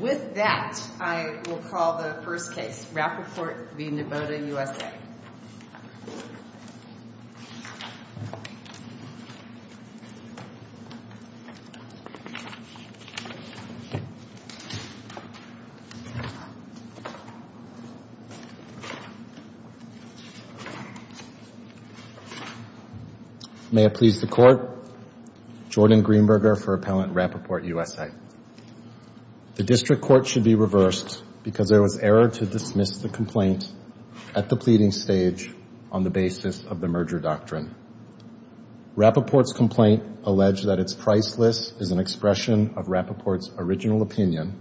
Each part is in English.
With that, I will call the first case, Rappaport v. Nivoda USA. May it please the Court. Jordan Greenberger for Appellant Rappaport USA. The District Court should be reversed because there was error to dismiss the complaint at the pleading stage on the basis of the merger doctrine. Rappaport's complaint alleged that its price list is an expression of Rappaport's original opinion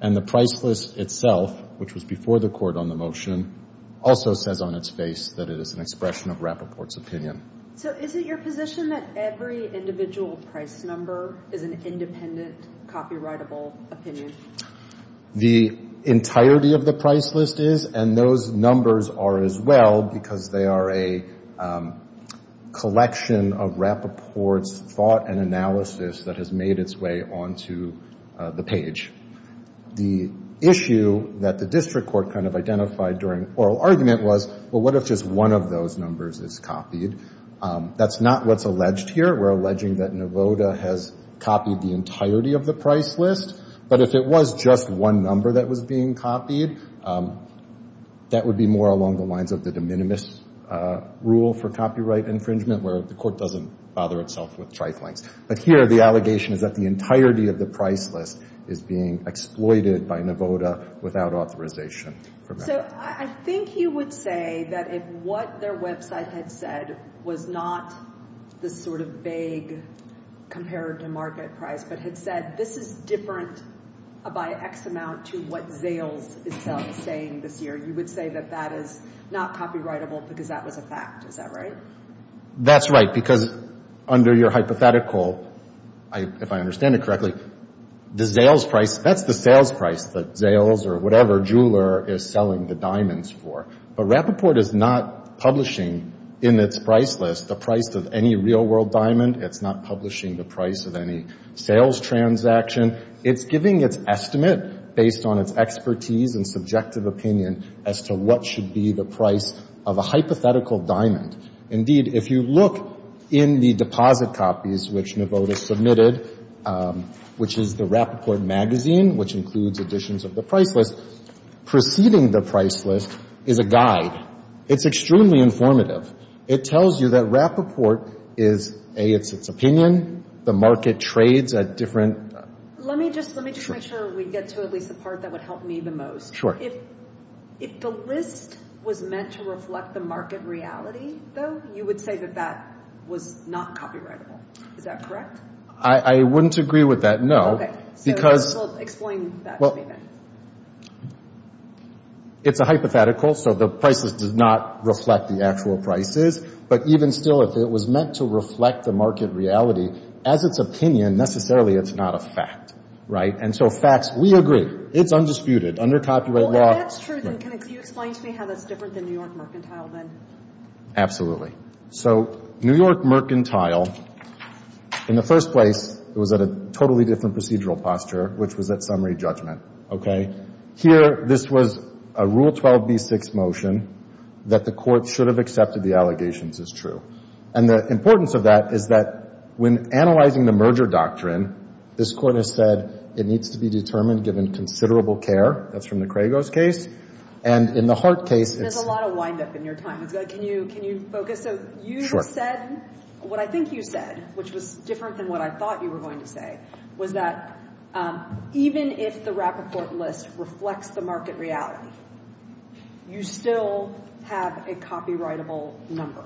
and the price list itself, which was before the Court on the motion, also says on its face that it is an expression of Rappaport's opinion. So is it your position that every individual price number is an independent, copyrightable opinion? The entirety of the price list is, and those numbers are as well because they are a collection of Rappaport's thought and analysis that has made its way onto the page. The issue that the District Court kind of identified during oral argument was, well, what if just one of those numbers is copied? That's not what's alleged here. We're alleging that Nivoda has copied the entirety of the price list. But if it was just one number that was being copied, that would be more along the lines of the de minimis rule for copyright infringement, where the Court doesn't bother itself with triflings. But here, the allegation is that the entirety of the price list is being exploited by Nivoda without authorization. So I think you would say that if what their website had said was not this sort of vague comparative market price, but had said, this is different by X amount to what Zales itself is saying this year, you would say that that is not copyrightable because that was a fact. Is that right? That's right, because under your hypothetical, if I understand it correctly, the Zales price, that's the sales price that Zales or whatever jeweler is selling the diamonds for. But Rappaport is not publishing in its price list the price of any real-world diamond. It's not publishing the price of any sales transaction. It's giving its estimate based on its expertise and subjective opinion as to what should be the price of a hypothetical diamond. Indeed, if you look in the deposit copies which Nivoda submitted, which is the Rappaport magazine, which includes editions of the price list, preceding the price list is a guide. It's extremely informative. It tells you that Rappaport is, A, it's its opinion. The market trades at different – Let me just make sure we get to at least the part that would help me the most. Sure. If the list was meant to reflect the market reality, though, you would say that that was not copyrightable. Is that correct? I wouldn't agree with that, no. Okay. So explain that to me then. It's a hypothetical, so the price list does not reflect the actual prices. But even still, if it was meant to reflect the market reality, as its opinion, necessarily it's not a fact, right? And so facts, we agree. It's undisputed. Under copyright law – Well, if that's true, then can you explain to me how that's different than New York Mercantile then? Absolutely. So New York Mercantile, in the first place, was at a totally different procedural posture, which was at summary judgment, okay? Here this was a Rule 12b6 motion that the Court should have accepted the allegations as true. And the importance of that is that when analyzing the merger doctrine, this Court has said it needs to be determined given considerable care. That's from the Kragos case. And in the Hart case – There's a lot of wind-up in your time. Can you focus? So you said – what I think you said, which was different than what I thought you were going to say, was that even if the Rappaport list reflects the market reality, you still have a copyrightable number.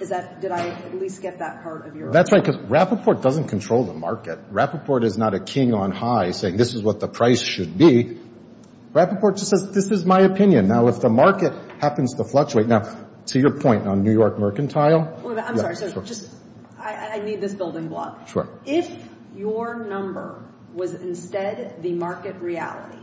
Is that – did I at least get that part of your – That's right. Because Rappaport doesn't control the market. Rappaport is not a king on high saying, this is what the price should be. Rappaport just says, this is my opinion. Now, if the market happens to fluctuate – now, to your point on New York Mercantile – I'm sorry. So just – I need this building block. If your number was instead the market reality,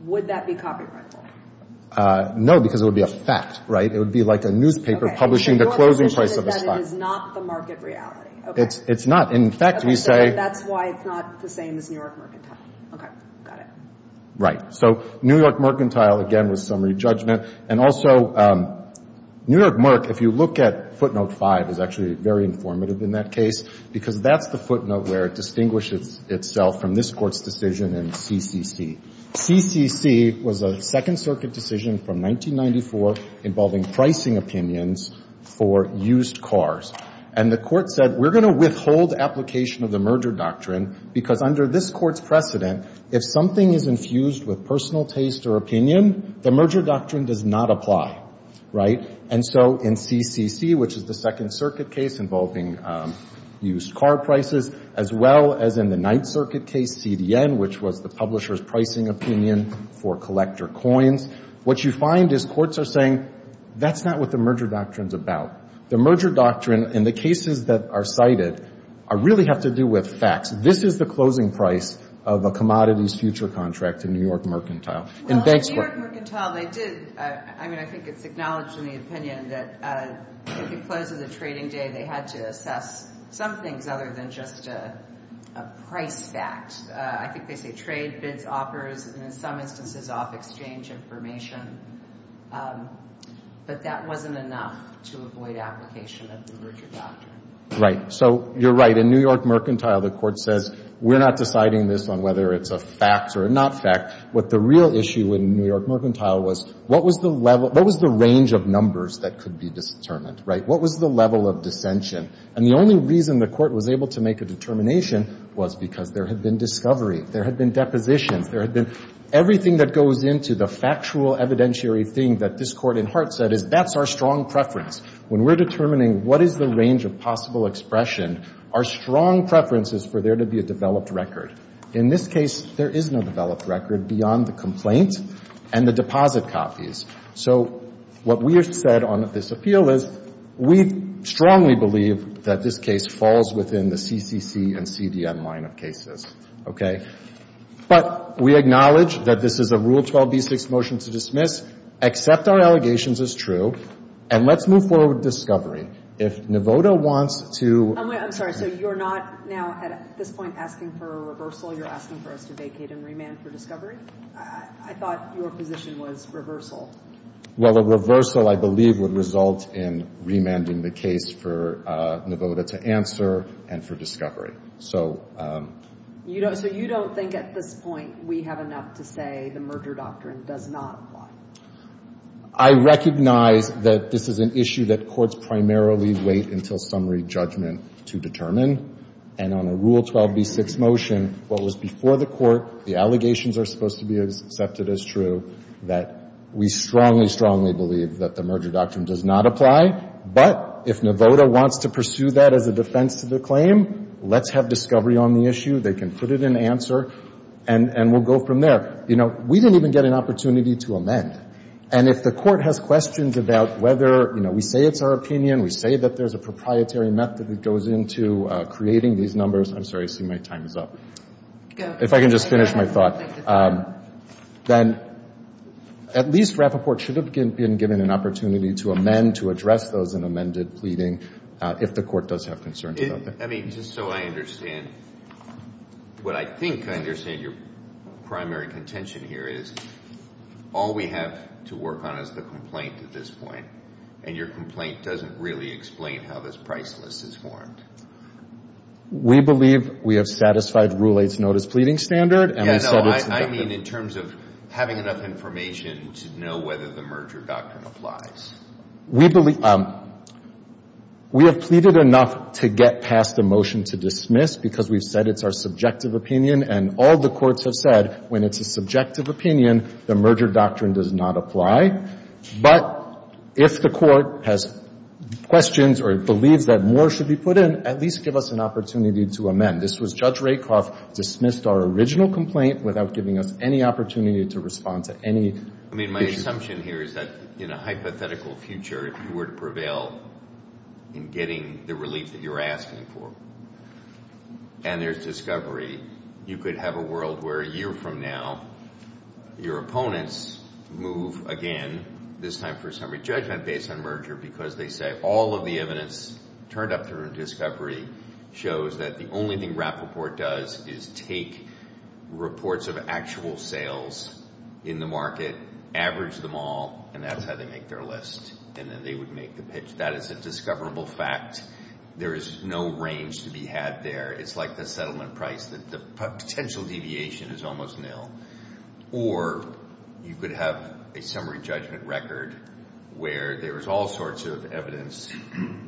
would that be copyrightable? No, because it would be a fact, right? It would be like a newspaper publishing the closing price of a stock. So your assumption is that it is not the market reality. It's not. In fact, we say – Okay. So that's why it's not the same as New York Mercantile. Okay. Got it. Right. So New York Mercantile, again, was summary judgment. And also, New York Merc, if you look at footnote 5, is actually very informative in that case because that's the footnote where it distinguishes itself from this Court's decision in CCC. CCC was a Second Circuit decision from 1994 involving pricing opinions for used cars. And the Court said, we're going to withhold application of the merger doctrine because under this Court's precedent, if something is infused with personal taste or opinion, the merger doctrine does not apply, right? And so in CCC, which is the Second Circuit case involving used car prices, as well as in the Ninth Circuit case, CDN, which was the publisher's pricing opinion for collector coins, what you find is courts are saying, that's not what the merger doctrine is about. The merger doctrine and the cases that are cited really have to do with facts. This is the closing price of a commodities future contract in New York Mercantile. In Banksport. Well, in New York Mercantile, they did, I mean, I think it's acknowledged in the opinion that if it closes a trading day, they had to assess some things other than just a price fact. I think they say trade, bids, offers, and in some instances, off-exchange information. But that wasn't enough to avoid application of the merger doctrine. Right. So you're right. In New York Mercantile, the Court says, we're not deciding this on whether it's a fact or a not fact. What the real issue in New York Mercantile was, what was the level, what was the range of numbers that could be determined, right? What was the level of dissension? And the only reason the Court was able to make a determination was because there had been discovery. There had been depositions. There had been everything that goes into the factual evidentiary thing that this Court in heart said is, that's our strong preference. When we're determining what is the range of possible expression, our strong preference is for there to be a developed record. In this case, there is no developed record beyond the complaint and the deposit copies. So what we have said on this appeal is, we strongly believe that this case falls within the CCC and CDM line of cases, okay? But we acknowledge that this is a Rule 12b-6 motion to dismiss, accept our allegations as true, and let's move forward with discovery. If Nevoda wants to — I'm sorry. So you're not now, at this point, asking for a reversal. You're asking for us to vacate and remand for discovery? I thought your position was reversal. Well, a reversal, I believe, would result in remanding the case for Nevoda to answer and for discovery. So — So you don't think at this point we have enough to say the merger doctrine does not apply? I recognize that this is an issue that courts primarily wait until summary judgment to determine. And on a Rule 12b-6 motion, what was before the Court, the allegations are supposed to be accepted as true, that we strongly, strongly believe that the merger doctrine does not apply. But if Nevoda wants to pursue that as a defense to the claim, let's have discovery on the issue. They can put it in answer, and we'll go from there. You know, we didn't even get an opportunity to amend. And if the Court has questions about whether, you know, we say it's our opinion, we say that there's a proprietary method that goes into creating these numbers — I'm sorry. I see my time is up. If I can just finish my thought. Then at least Rappaport should have been given an opportunity to amend, to address those in amended pleading, if the Court does have concerns about that. I mean, just so I understand, what I think, I understand your primary contention here is, all we have to work on is the complaint at this point. And your complaint doesn't really explain how this price list is formed. We believe we have satisfied Rule 8's notice pleading standard, and we said it's Yeah, no, I mean in terms of having enough information to know whether the merger doctrine applies. We believe — we have pleaded enough to get past a motion to dismiss, because we've said it's our subjective opinion, and all the courts have said, when it's a subjective opinion, the merger doctrine does not apply. But if the Court has questions or believes that more should be put in, at least give us an opportunity to amend. This was — Judge Rakoff dismissed our original complaint without giving us any opportunity to respond to any — I mean, my assumption here is that in a hypothetical future, if you were to prevail in getting the relief that you're asking for, and there's discovery, you could have a world where a year from now, your opponents move again, this time for summary judgment based on merger, because they say all of the evidence turned up during discovery shows that the only thing Rappaport does is take reports of actual sales in the market, average them all, and that's how they make their list, and then they would make the pitch. That is a discoverable fact. There is no range to be had there. It's like the settlement price, that the potential deviation is almost nil. Or you could have a summary judgment record where there is all sorts of evidence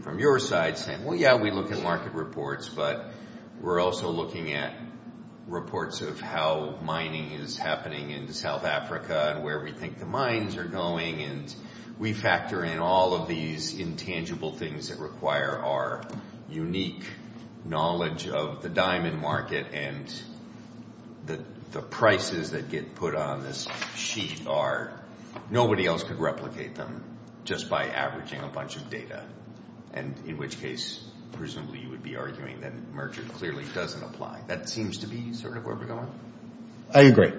from your side saying, well, yeah, we look at market reports, but we're also looking at reports of how mining is happening in South Africa and where we think the mines are going, and we factor in all of these intangible things that require our unique knowledge of the diamond market. And the prices that get put on this sheet are — nobody else could replicate them just by averaging a bunch of data, and in which case, presumably, you would be arguing that Merchant clearly doesn't apply. That seems to be sort of where we're going. I agree.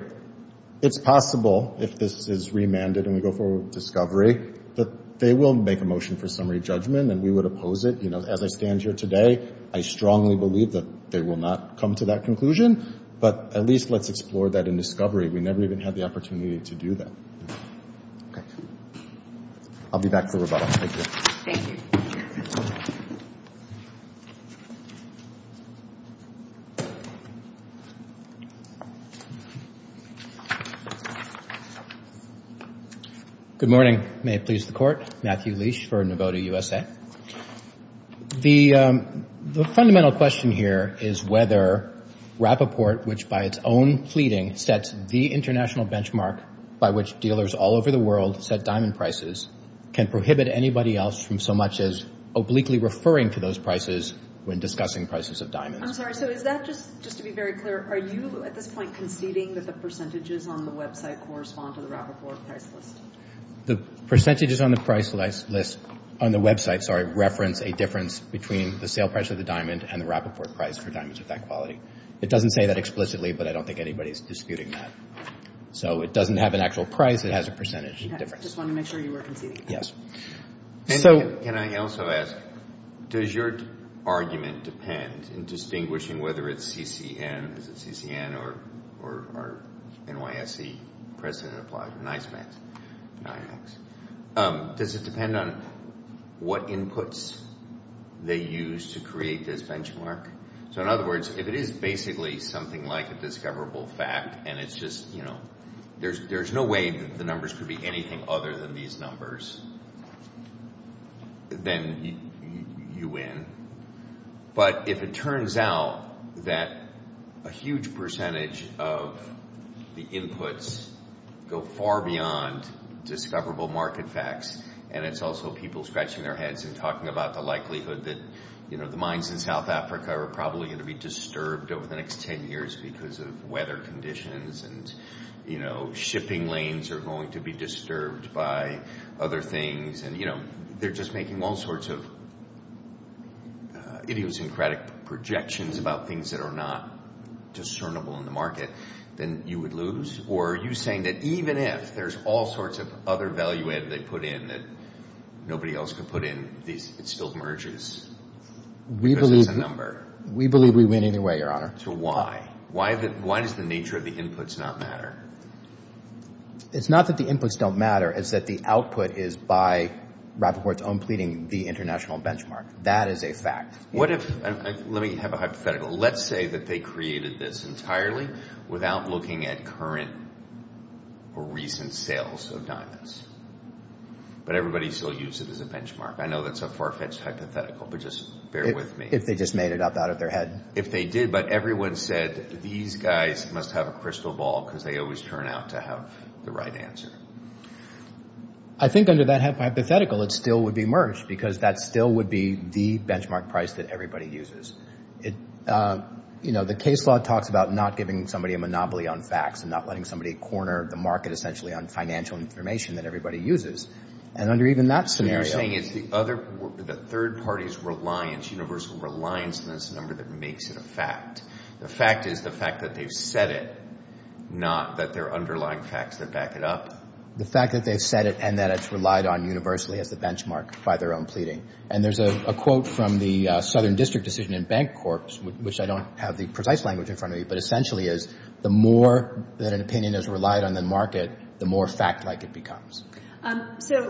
It's possible, if this is remanded and we go forward with discovery, that they will make a motion for summary judgment, and we would oppose it. You know, as I stand here today, I strongly believe that they will not come to that conclusion, but at least let's explore that in discovery. We never even had the opportunity to do that. Okay. I'll be back for rebuttal. Thank you. Thank you. Matthew Leash, for Novota USA. The fundamental question here is whether Rappaport, which by its own pleading sets the international benchmark by which dealers all over the world set diamond prices, can prohibit anybody else from so much as obliquely referring to those prices when discussing prices. I'm sorry. So is that just to be very clear, are you at this point conceding that the percentages on the website correspond to the Rappaport price list? The percentages on the website reference a difference between the sale price of the diamond and the Rappaport price for diamonds of that quality. It doesn't say that explicitly, but I don't think anybody's disputing that. So it doesn't have an actual price. It has a percentage difference. I just wanted to make sure you were conceding that. Yes. And can I also ask, does your argument depend in distinguishing whether it's CCN, is it CCN or NYSE precedent applied, NYMEX, does it depend on what inputs they use to create this benchmark? So in other words, if it is basically something like a discoverable fact and it's just, you know, there's no way that the numbers could be anything other than these numbers, then you win. But if it turns out that a huge percentage of the inputs go far beyond discoverable market facts and it's also people scratching their heads and talking about the likelihood that, you know, the mines in South Africa are probably going to be disturbed over the next 10 years because of weather conditions and, you know, other things and, you know, they're just making all sorts of idiosyncratic projections about things that are not discernible in the market, then you would lose? Or are you saying that even if there's all sorts of other value add that they put in that nobody else could put in, it still merges because it's a number? We believe we win anyway, Your Honor. So why? Why does the nature of the inputs not matter? It's not that the inputs don't matter. It's that the output is by Rappaport's own pleading, the international benchmark. That is a fact. What if, let me have a hypothetical. Let's say that they created this entirely without looking at current or recent sales of diamonds, but everybody still uses it as a benchmark. I know that's a far-fetched hypothetical, but just bear with me. If they just made it up out of their head. If they did, but everyone said, these guys must have a crystal ball because they always turn out to have the right answer. I think under that hypothetical, it still would be merged because that still would be the benchmark price that everybody uses. You know, the case law talks about not giving somebody a monopoly on facts and not letting somebody corner the market essentially on financial information that everybody uses. And under even that scenario. You're saying it's the third party's reliance, universal reliance on this number that makes it a fact. The fact is the fact that they've said it, not that there are underlying facts that back it up. The fact that they've said it and that it's relied on universally as the benchmark by their own pleading. And there's a quote from the Southern District Decision and Bank Corps, which I don't have the precise language in front of me, but essentially is the more that an opinion is relied on the market, the more fact-like it becomes. So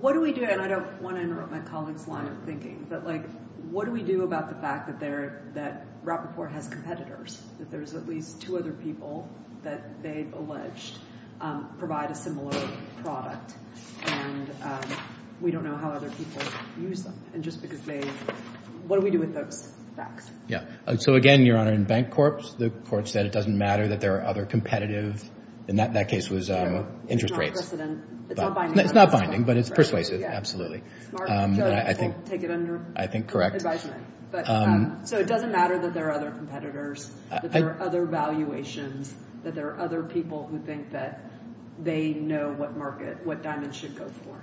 what do we do? And I don't want to interrupt my colleague's line of thinking, but like, what do we do about the fact that they're, that Rappaport has competitors, that there's at least two other people that they've alleged provide a similar product and we don't know how other people use them. And just because they, what do we do with those facts? Yeah. So again, Your Honor, in Bank Corps, the court said it doesn't matter that there are other competitive, and that case was interest rates. It's not binding. It's not binding, but it's persuasive. Absolutely. I think, I think correct. So it doesn't matter that there are other competitors, that there are other valuations, that there are other people who think that they know what market, what Diamond should go for.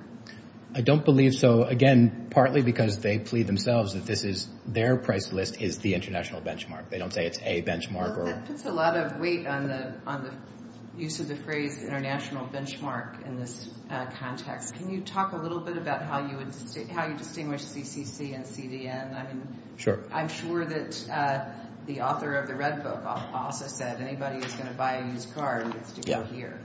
I don't believe so. Again, partly because they plead themselves that this is, their price list is the international benchmark. They don't say it's a benchmark. Well, that puts a lot of weight on the, on the use of the phrase international benchmark in this context. Can you talk a little bit about how you would, how you distinguish CCC and CDN? Sure. I'm sure that the author of the Red Book also said anybody who's going to buy a used car needs to go here.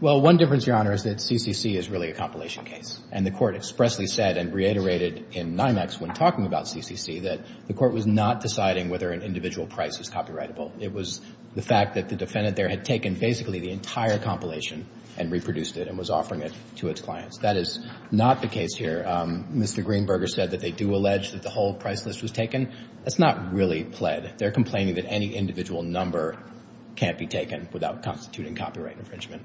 Well, one difference, Your Honor, is that CCC is really a compilation case. And the court expressly said and reiterated in NIMEX when talking about CCC that the court was not deciding whether an individual price is copyrightable. It was the fact that the defendant there had taken basically the entire compilation and reproduced it and was offering it to its clients. That is not the case here. Mr. Greenberger said that they do allege that the whole price list was taken. That's not really pled. They're complaining that any individual number can't be taken without constituting copyright infringement.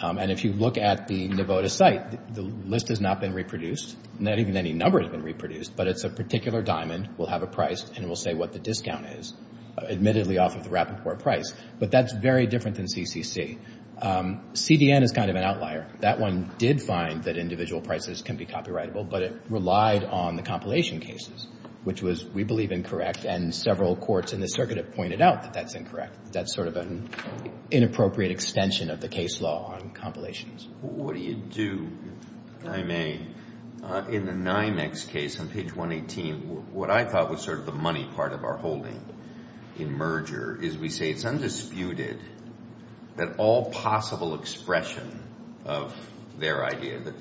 And if you look at the Nevada site, the list has not been reproduced. Not even any number has been reproduced, but it's a particular diamond. We'll have a price and we'll say what the discount is, admittedly off of the rapid pour price. But that's very different than CCC. CDN is kind of an outlier. That one did find that individual prices can be copyrightable, but it relied on the compilation cases, which was, we believe, incorrect. And several courts in the circuit have pointed out that that's incorrect. That's sort of an inappropriate extension of the case law on compilations. What do you do, if I may, in the NIMEX case on page 118, what I thought was sort of the money part of our holding in merger is we say it's undisputed that all possible expression of their idea, the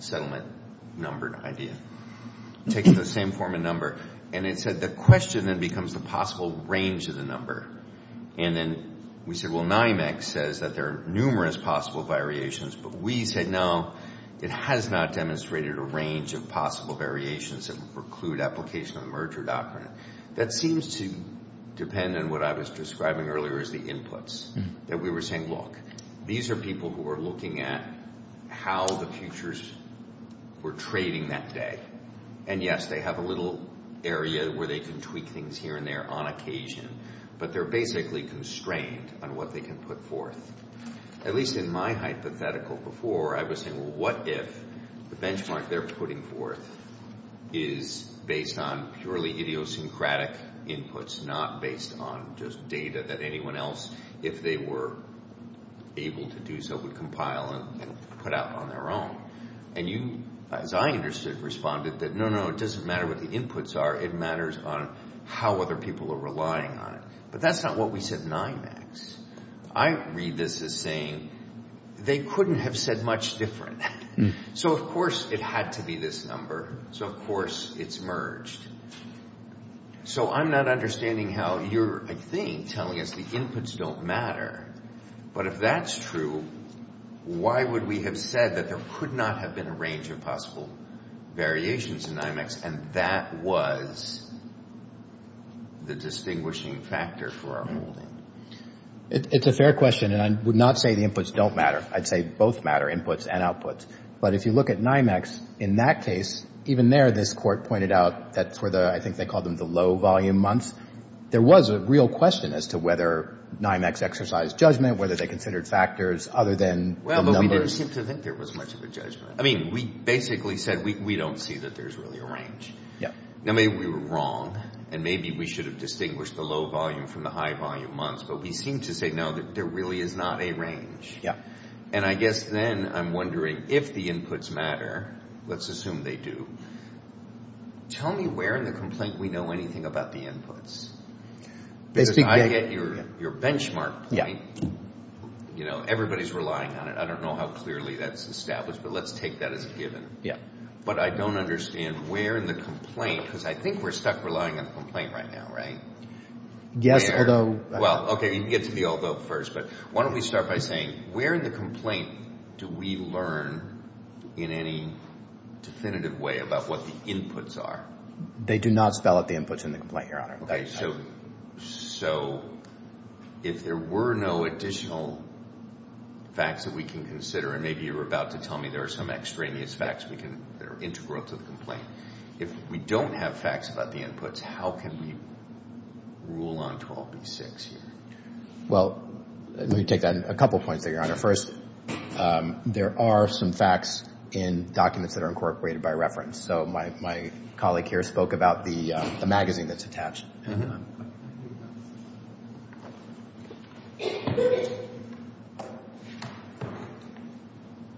settlement numbered idea, takes the same form of number. And it said the question then becomes the possible range of the number. And then we said, well, NIMEX says that there are numerous possible variations. But we said, no, it has not demonstrated a range of possible variations that would preclude application of the merger doctrine. That seems to depend on what I was describing earlier as the inputs, that we were saying, look, these are people who are looking at how the futures were trading that day. And yes, they have a little area where they can tweak things here and there on occasion, but they're basically constrained on what they can put forth. At least in my hypothetical before, I was saying, well, what if the benchmark they're putting forth is based on purely idiosyncratic inputs, not based on just data that anyone else, if they were able to do so, would compile and put out on their own. And you, as I understood, responded that, no, no, it doesn't matter what the inputs are. It matters on how other people are relying on it. But that's not what we said NIMEX. I read this as saying they couldn't have said much different. So, of course, it had to be this number. So, of course, it's merged. So, I'm not understanding how you're, I think, telling us the inputs don't matter. But if that's true, why would we have said that there could not have been a range of possible variations in NIMEX and that was the distinguishing factor for our holding? It's a fair question. And I would not say the inputs don't matter. I'd say both matter, inputs and outputs. But if you look at NIMEX, in that case, even there, this court pointed out that that's where the, I think they call them the low-volume months, there was a real question as to whether NIMEX exercised judgment, whether they considered factors other than the numbers. Well, but we didn't seem to think there was much of a judgment. I mean, we basically said we don't see that there's really a range. Yeah. Now, maybe we were wrong and maybe we should have distinguished the low-volume from the high-volume months. But we seem to say, no, that there really is not a range. Yeah. And I guess then I'm wondering, if the inputs matter, let's assume they do, tell me where in the complaint we know anything about the inputs. Because I get your benchmark point, you know, everybody's relying on it. I don't know how clearly that's established, but let's take that as a given. Yeah. But I don't understand where in the complaint, because I think we're stuck relying on the complaint right now, right? Yes, although... Well, okay. You can get to the although first, but why don't we start by saying, where in the complaint do we learn in any definitive way about what the inputs are? They do not spell out the inputs in the complaint, Your Honor. So, so if there were no additional facts that we can consider, and maybe you're about to tell me there are some extraneous facts we can, that are integral to the complaint, if we don't have facts about the inputs, how can we rule on 12B6 here? Well, let me take that, a couple of points there, Your Honor. First, there are some facts in documents that are incorporated by reference. So my colleague here spoke about the magazine that's attached.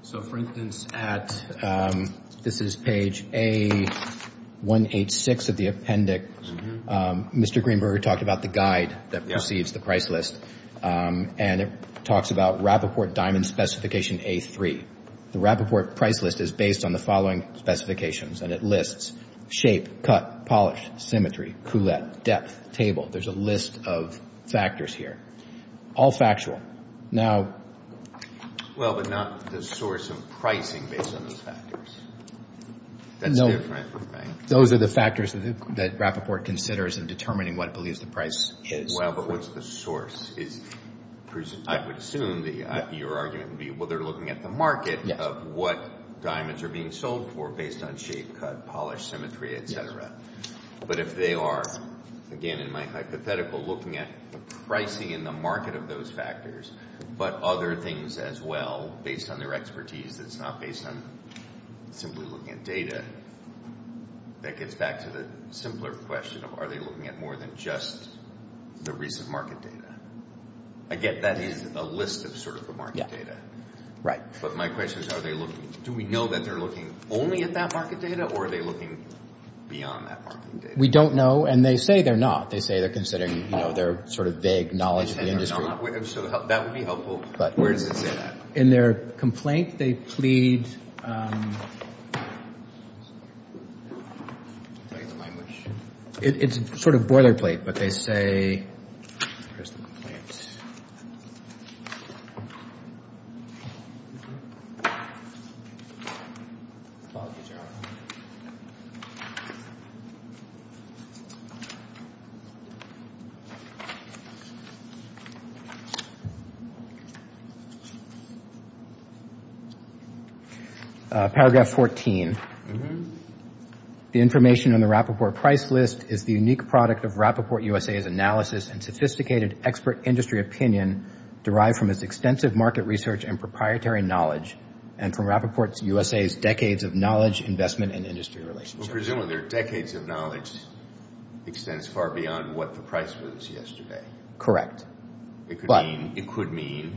So for instance, at, this is page A186 of the appendix, Mr. Greenberger talked about the guide that precedes the price list, and it talks about Rappaport Diamond Specification A3. The Rappaport price list is based on the following specifications, and it lists shape, cut, polish, symmetry, coulette, depth, table. There's a list of factors here, all factual. Well, but not the source of pricing based on those factors. That's different, right? Those are the factors that Rappaport considers in determining what it believes the price is. Well, but what's the source? Is, I would assume that your argument would be, well, they're looking at the market of what diamonds are being sold for based on shape, cut, polish, symmetry, et cetera. But if they are, again, in my hypothetical, looking at the pricing in the market of those factors, but other things as well, based on their expertise that's not based on simply looking at data, that gets back to the simpler question of, are they looking at more than just the recent market data? I get that is a list of sort of the market data. Right. But my question is, are they looking, do we know that they're looking only at that market data, or are they looking beyond that market data? We don't know. And they say they're not. They say they're considering, you know, their sort of vague knowledge of the industry. They say they're not. So that would be helpful, but where does it say that? In their complaint, they plead, it's sort of boilerplate, but they say, here's the complaint. Paragraph 14. The information on the Rappaport price list is the unique product of Rappaport USA's analysis and sophisticated expert industry opinion derived from its extensive market research and proprietary knowledge, and from Rappaport USA's decades of knowledge, investment, and industry relationship. Well, presumably their decades of knowledge extends far beyond what the price was yesterday. Correct. It could mean,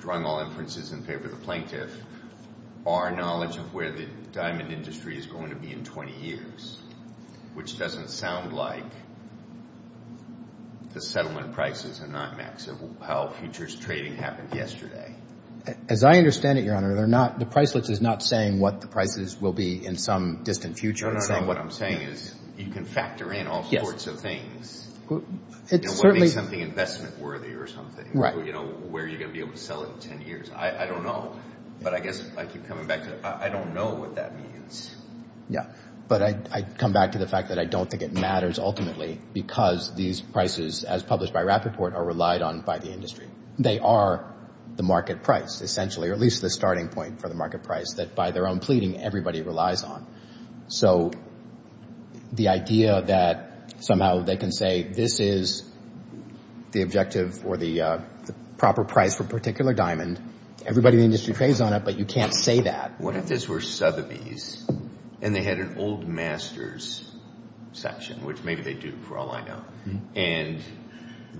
drawing all inferences in favor of the plaintiff, our knowledge of where the diamond industry is going to be in 20 years, which doesn't sound like the settlement prices are not maximum, how futures trading happened yesterday. As I understand it, Your Honor, the price list is not saying what the prices will be in some distant future. No, no, no. What I'm saying is, you can factor in all sorts of things, you know, what makes something investment worthy or something, you know, where you're going to be able to sell it in 10 years. I don't know. But I guess I keep coming back to, I don't know what that means. Yeah, but I come back to the fact that I don't think it matters ultimately, because these prices, as published by Rappaport, are relied on by the industry. They are the market price, essentially, or at least the starting point for the market price that, by their own pleading, everybody relies on. So the idea that somehow they can say, this is the objective or the proper price for a particular diamond, everybody in the industry trades on it, but you can't say that. What if this were Sotheby's and they had an old master's section, which maybe they do for all I know, and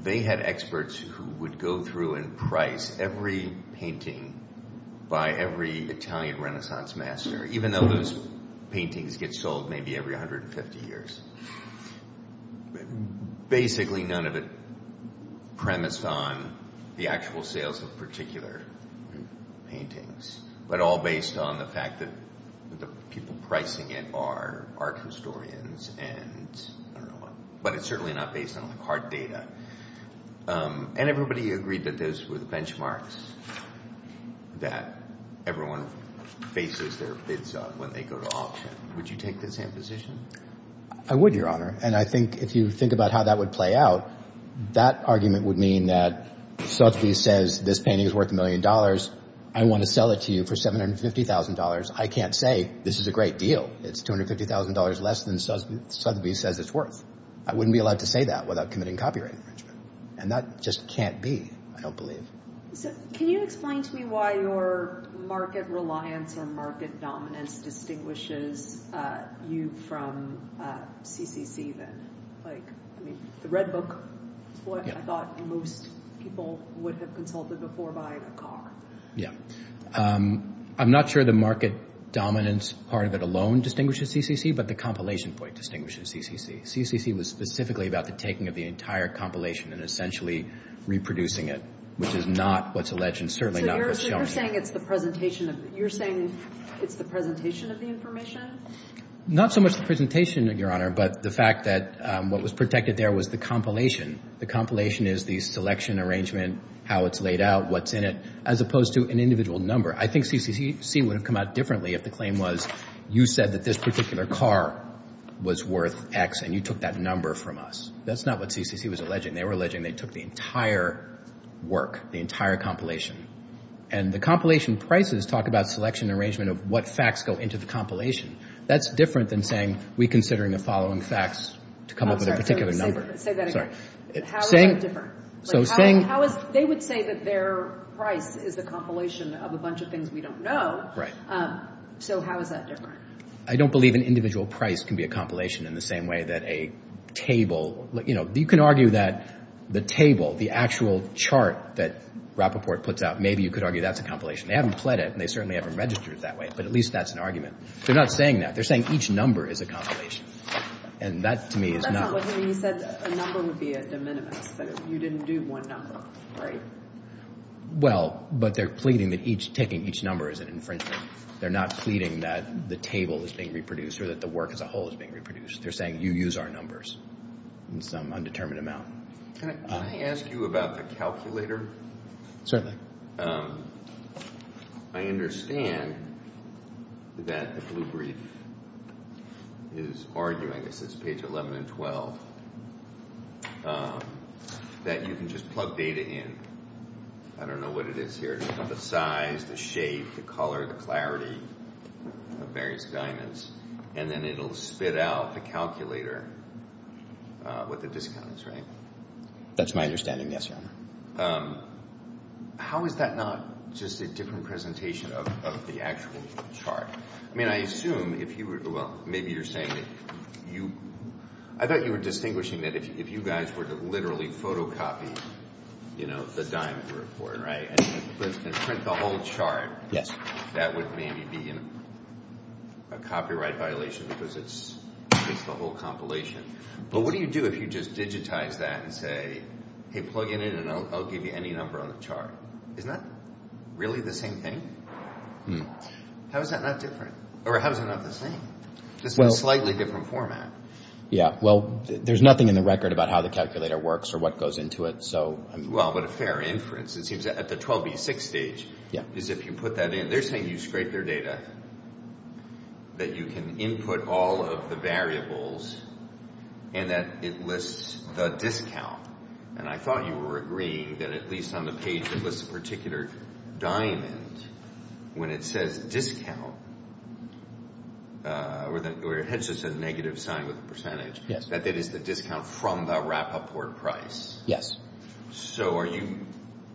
they had experts who would go through and price every painting by every Italian Renaissance master, even though those paintings get sold maybe every 150 years. Basically, none of it premised on the actual sales of particular paintings, but all based on the fact that the people pricing it are art historians, but it's certainly not based on hard data. And everybody agreed that those were the benchmarks that everyone bases their bids on when they go to auction. Would you take the same position? I would, Your Honor. And I think if you think about how that would play out, that argument would mean that Sotheby's says this painting is worth a million dollars. I want to sell it to you for $750,000. I can't say this is a great deal. It's $250,000 less than Sotheby's says it's worth. I wouldn't be allowed to say that without committing copyright infringement. And that just can't be, I don't believe. So can you explain to me why your market reliance or market dominance distinguishes you from CCC then? Like, I mean, the Red Book is what I thought most people would have consulted before by a Yeah. I'm not sure the market dominance part of it alone distinguishes CCC, but the compilation point distinguishes CCC. CCC was specifically about the taking of the entire compilation and essentially reproducing it, which is not what's alleged and certainly not what's shown. So you're saying it's the presentation of, you're saying it's the presentation of the information? Not so much the presentation, Your Honor, but the fact that what was protected there was the compilation. The compilation is the selection arrangement, how it's laid out, what's in it, as opposed to an individual number. I think CCC would have come out differently if the claim was you said that this particular car was worth X and you took that number from us. That's not what CCC was alleging. They were alleging they took the entire work, the entire compilation. And the compilation prices talk about selection arrangement of what facts go into the That's different than saying we're considering the following facts to come up with a particular number. Say that again. How is that different? So saying, how is, they would say that their price is the compilation of a bunch of things we don't know. Right. So how is that different? I don't believe an individual price can be a compilation in the same way that a table, you know, you can argue that the table, the actual chart that Rappaport puts out, maybe you could argue that's a compilation. They haven't pled it and they certainly haven't registered it that way, but at least that's an argument. They're not saying that. They're saying each number is a compilation. And that to me is not. That's not what he said. A number would be a de minimis, but you didn't do one number, right? Well, but they're pleading that each, taking each number is an infringement. They're not pleading that the table is being reproduced or that the work as a whole is being reproduced. They're saying you use our numbers. In some undetermined amount. Can I ask you about the calculator? Certainly. I understand that the blue brief is arguing, this is page 11 and 12, that you can just plug data in. I don't know what it is here. The size, the shape, the color, the clarity of various diamonds, and then it'll spit out the calculator what the discount is, right? That's my understanding. Yes, Your Honor. How is that not just a different presentation of the actual chart? I mean, I assume if you were, well, maybe you're saying that you, I thought you were distinguishing that if you guys were to literally photocopy, you know, the diamond report, right? And print the whole chart. Yes. That would maybe be a copyright violation because it's the whole compilation. But what do you do if you just digitize that and say, hey, plug it in and I'll give you any number on the chart? Is that really the same thing? How is that not different? Or how is it not the same? Just in a slightly different format. Yeah. Well, there's nothing in the record about how the calculator works or what goes into it. Well, but a fair inference. It seems that at the 12B6 stage, is if you put that in, they're saying you scrape their data, that you can input all of the variables and that it lists the discount. And I thought you were agreeing that at least on the page that lists a particular diamond, when it says discount, or it has just a negative sign with a percentage, that that is the discount from the wrap-up port price. Yes. So are you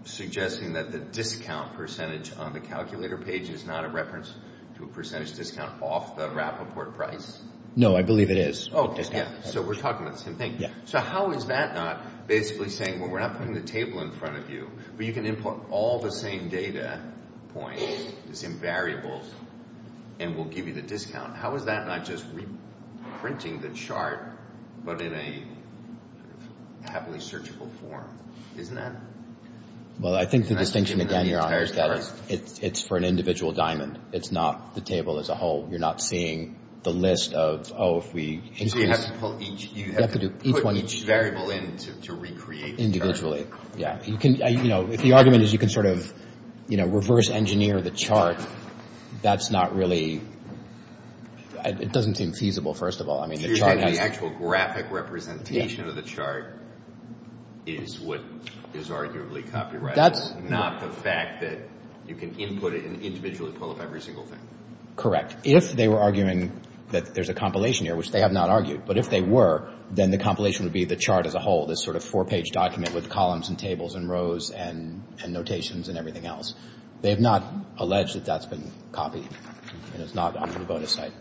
suggesting that the discount percentage on the calculator page is not a reference to a percentage discount off the wrap-up port price? No, I believe it is. Oh, so we're talking about the same thing. So how is that not basically saying, well, we're not putting the table in front of you, but you can input all the same data points, the same variables, and we'll give you the discount. How is that not just reprinting the chart, but in a happily searchable form? Isn't that? Well, I think the distinction, again, Your Honor, is that it's for an individual diamond. It's not the table as a whole. You're not seeing the list of, oh, if we increase. So you have to put each variable in to recreate the chart. Individually, yeah. You can, you know, if the argument is you can sort of, you know, reverse engineer the chart, that's not really, it doesn't seem feasible, first of all. The actual graphic representation of the chart is what is arguably copyrighted, not the fact that you can input it and individually pull up every single thing. Correct. If they were arguing that there's a compilation here, which they have not argued, but if they were, then the compilation would be the chart as a whole, this sort of four-page document with columns and tables and rows and notations and everything else. They have not alleged that that's been copied and it's not on the bonus site.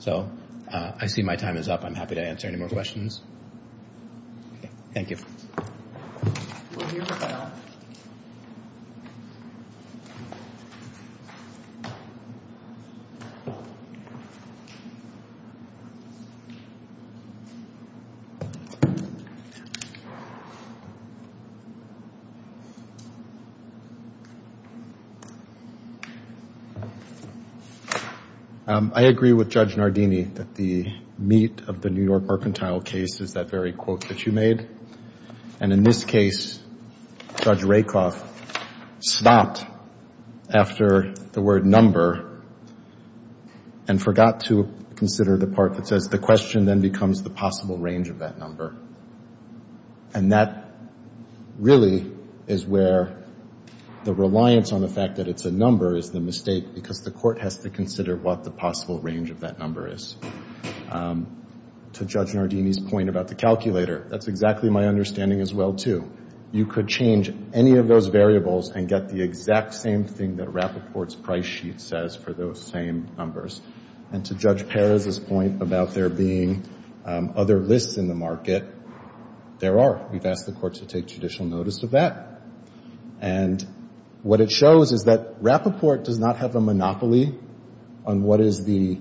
So I see my time is up. I'm happy to answer any more questions. Thank you. We'll hear from Al. I agree with Judge Nardini that the meat of the New York mercantile case is that very quote that you made. And in this case, Judge Rakoff stopped after the word number and forgot to consider the part that says the question then becomes the possible range of that number. And that really is where the reliance on the fact that it's a number is the mistake because the court has to consider what the possible range of that number is. To Judge Nardini's point about the calculator, that's exactly my understanding as well, too. You could change any of those variables and get the exact same thing that Rappaport's price sheet says for those same numbers. And to Judge Perez's point about there being other lists in the market, there are. We've asked the court to take judicial notice of that. And what it shows is that Rappaport does not have a monopoly on what is the,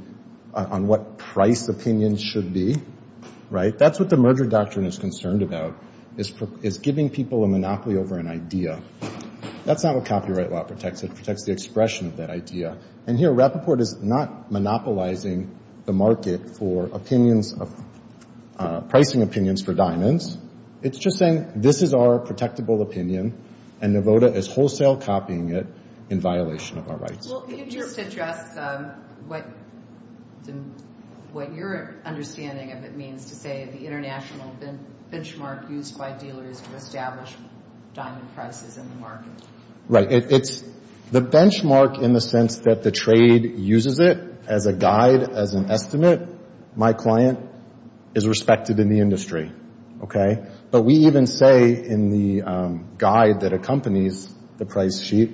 on what price opinions should be, right? That's what the merger doctrine is concerned about, is giving people a monopoly over an idea. That's not what copyright law protects. It protects the expression of that idea. And here, Rappaport is not monopolizing the market for opinions, pricing opinions for diamonds. It's just saying this is our protectable opinion and Nevoda is wholesale copying it in violation of our rights. Well, could you just address what your understanding of it means to say the international benchmark used by dealers to establish diamond prices in the market? Right. It's the benchmark in the sense that the trade uses it as a guide, as an estimate. My client is respected in the industry, OK? But we even say in the guide that accompanies the price sheet,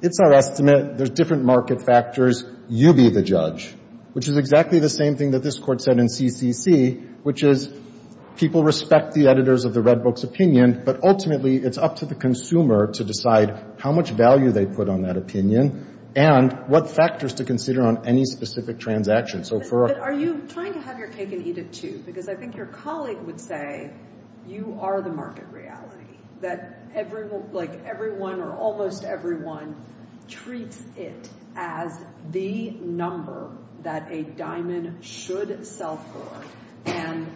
it's our estimate. There's different market factors. You be the judge, which is exactly the same thing that this court said in CCC, which is people respect the editors of the Red Book's opinion. But ultimately, it's up to the consumer to decide how much value they put on that opinion and what factors to consider on any specific transaction. So for. Are you trying to have your cake and eat it, too? Because I think your colleague would say you are the market reality, that everyone, like everyone or almost everyone, treats it as the number that a diamond should sell for. And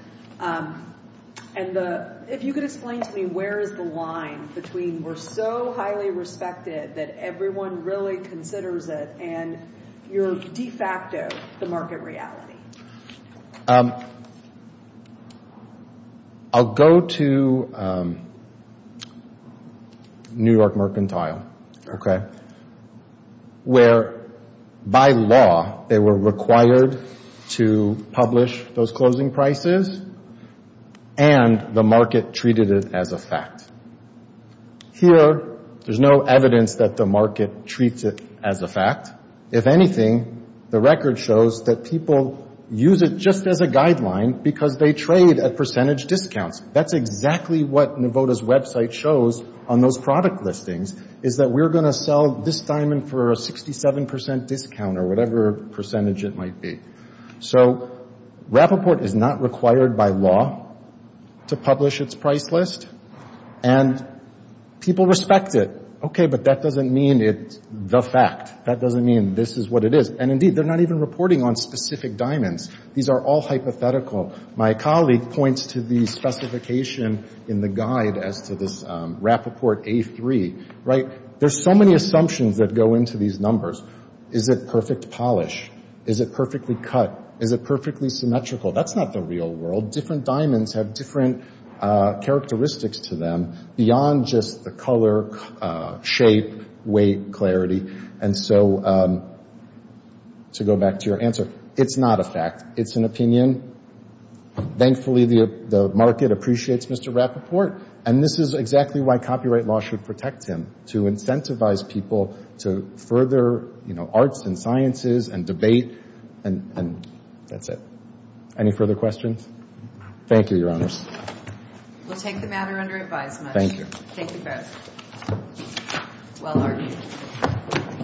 if you could explain to me, where is the line between we're so highly respected that everyone really considers it and you're de facto the market reality? I'll go to New York Mercantile, OK, where by law they were required to publish those closing prices and the market treated it as a fact. Here, there's no evidence that the market treats it as a fact. If anything, the record shows that people use it just as a guideline because they trade at percentage discounts. That's exactly what Novota's website shows on those product listings, is that we're going to sell this diamond for a 67 percent discount or whatever percentage it might be. So Rappaport is not required by law to publish its price list and people respect it. OK, but that doesn't mean it's the fact. That doesn't mean this is what it is. And indeed, they're not even reporting on specific diamonds. These are all hypothetical. My colleague points to the specification in the guide as to this Rappaport A3, right? There's so many assumptions that go into these numbers. Is it perfect polish? Is it perfectly cut? Is it perfectly symmetrical? That's not the real world. Different diamonds have different characteristics to them beyond just the color, shape, weight, clarity. And so to go back to your answer, it's not a fact. It's an opinion. Thankfully, the market appreciates Mr. Rappaport. And this is exactly why copyright law should protect him, to incentivize people to further arts and sciences and debate. And that's it. Any further questions? Thank you, Your Honors. We'll take the matter under advisement. Thank you. Thank you both. Well argued.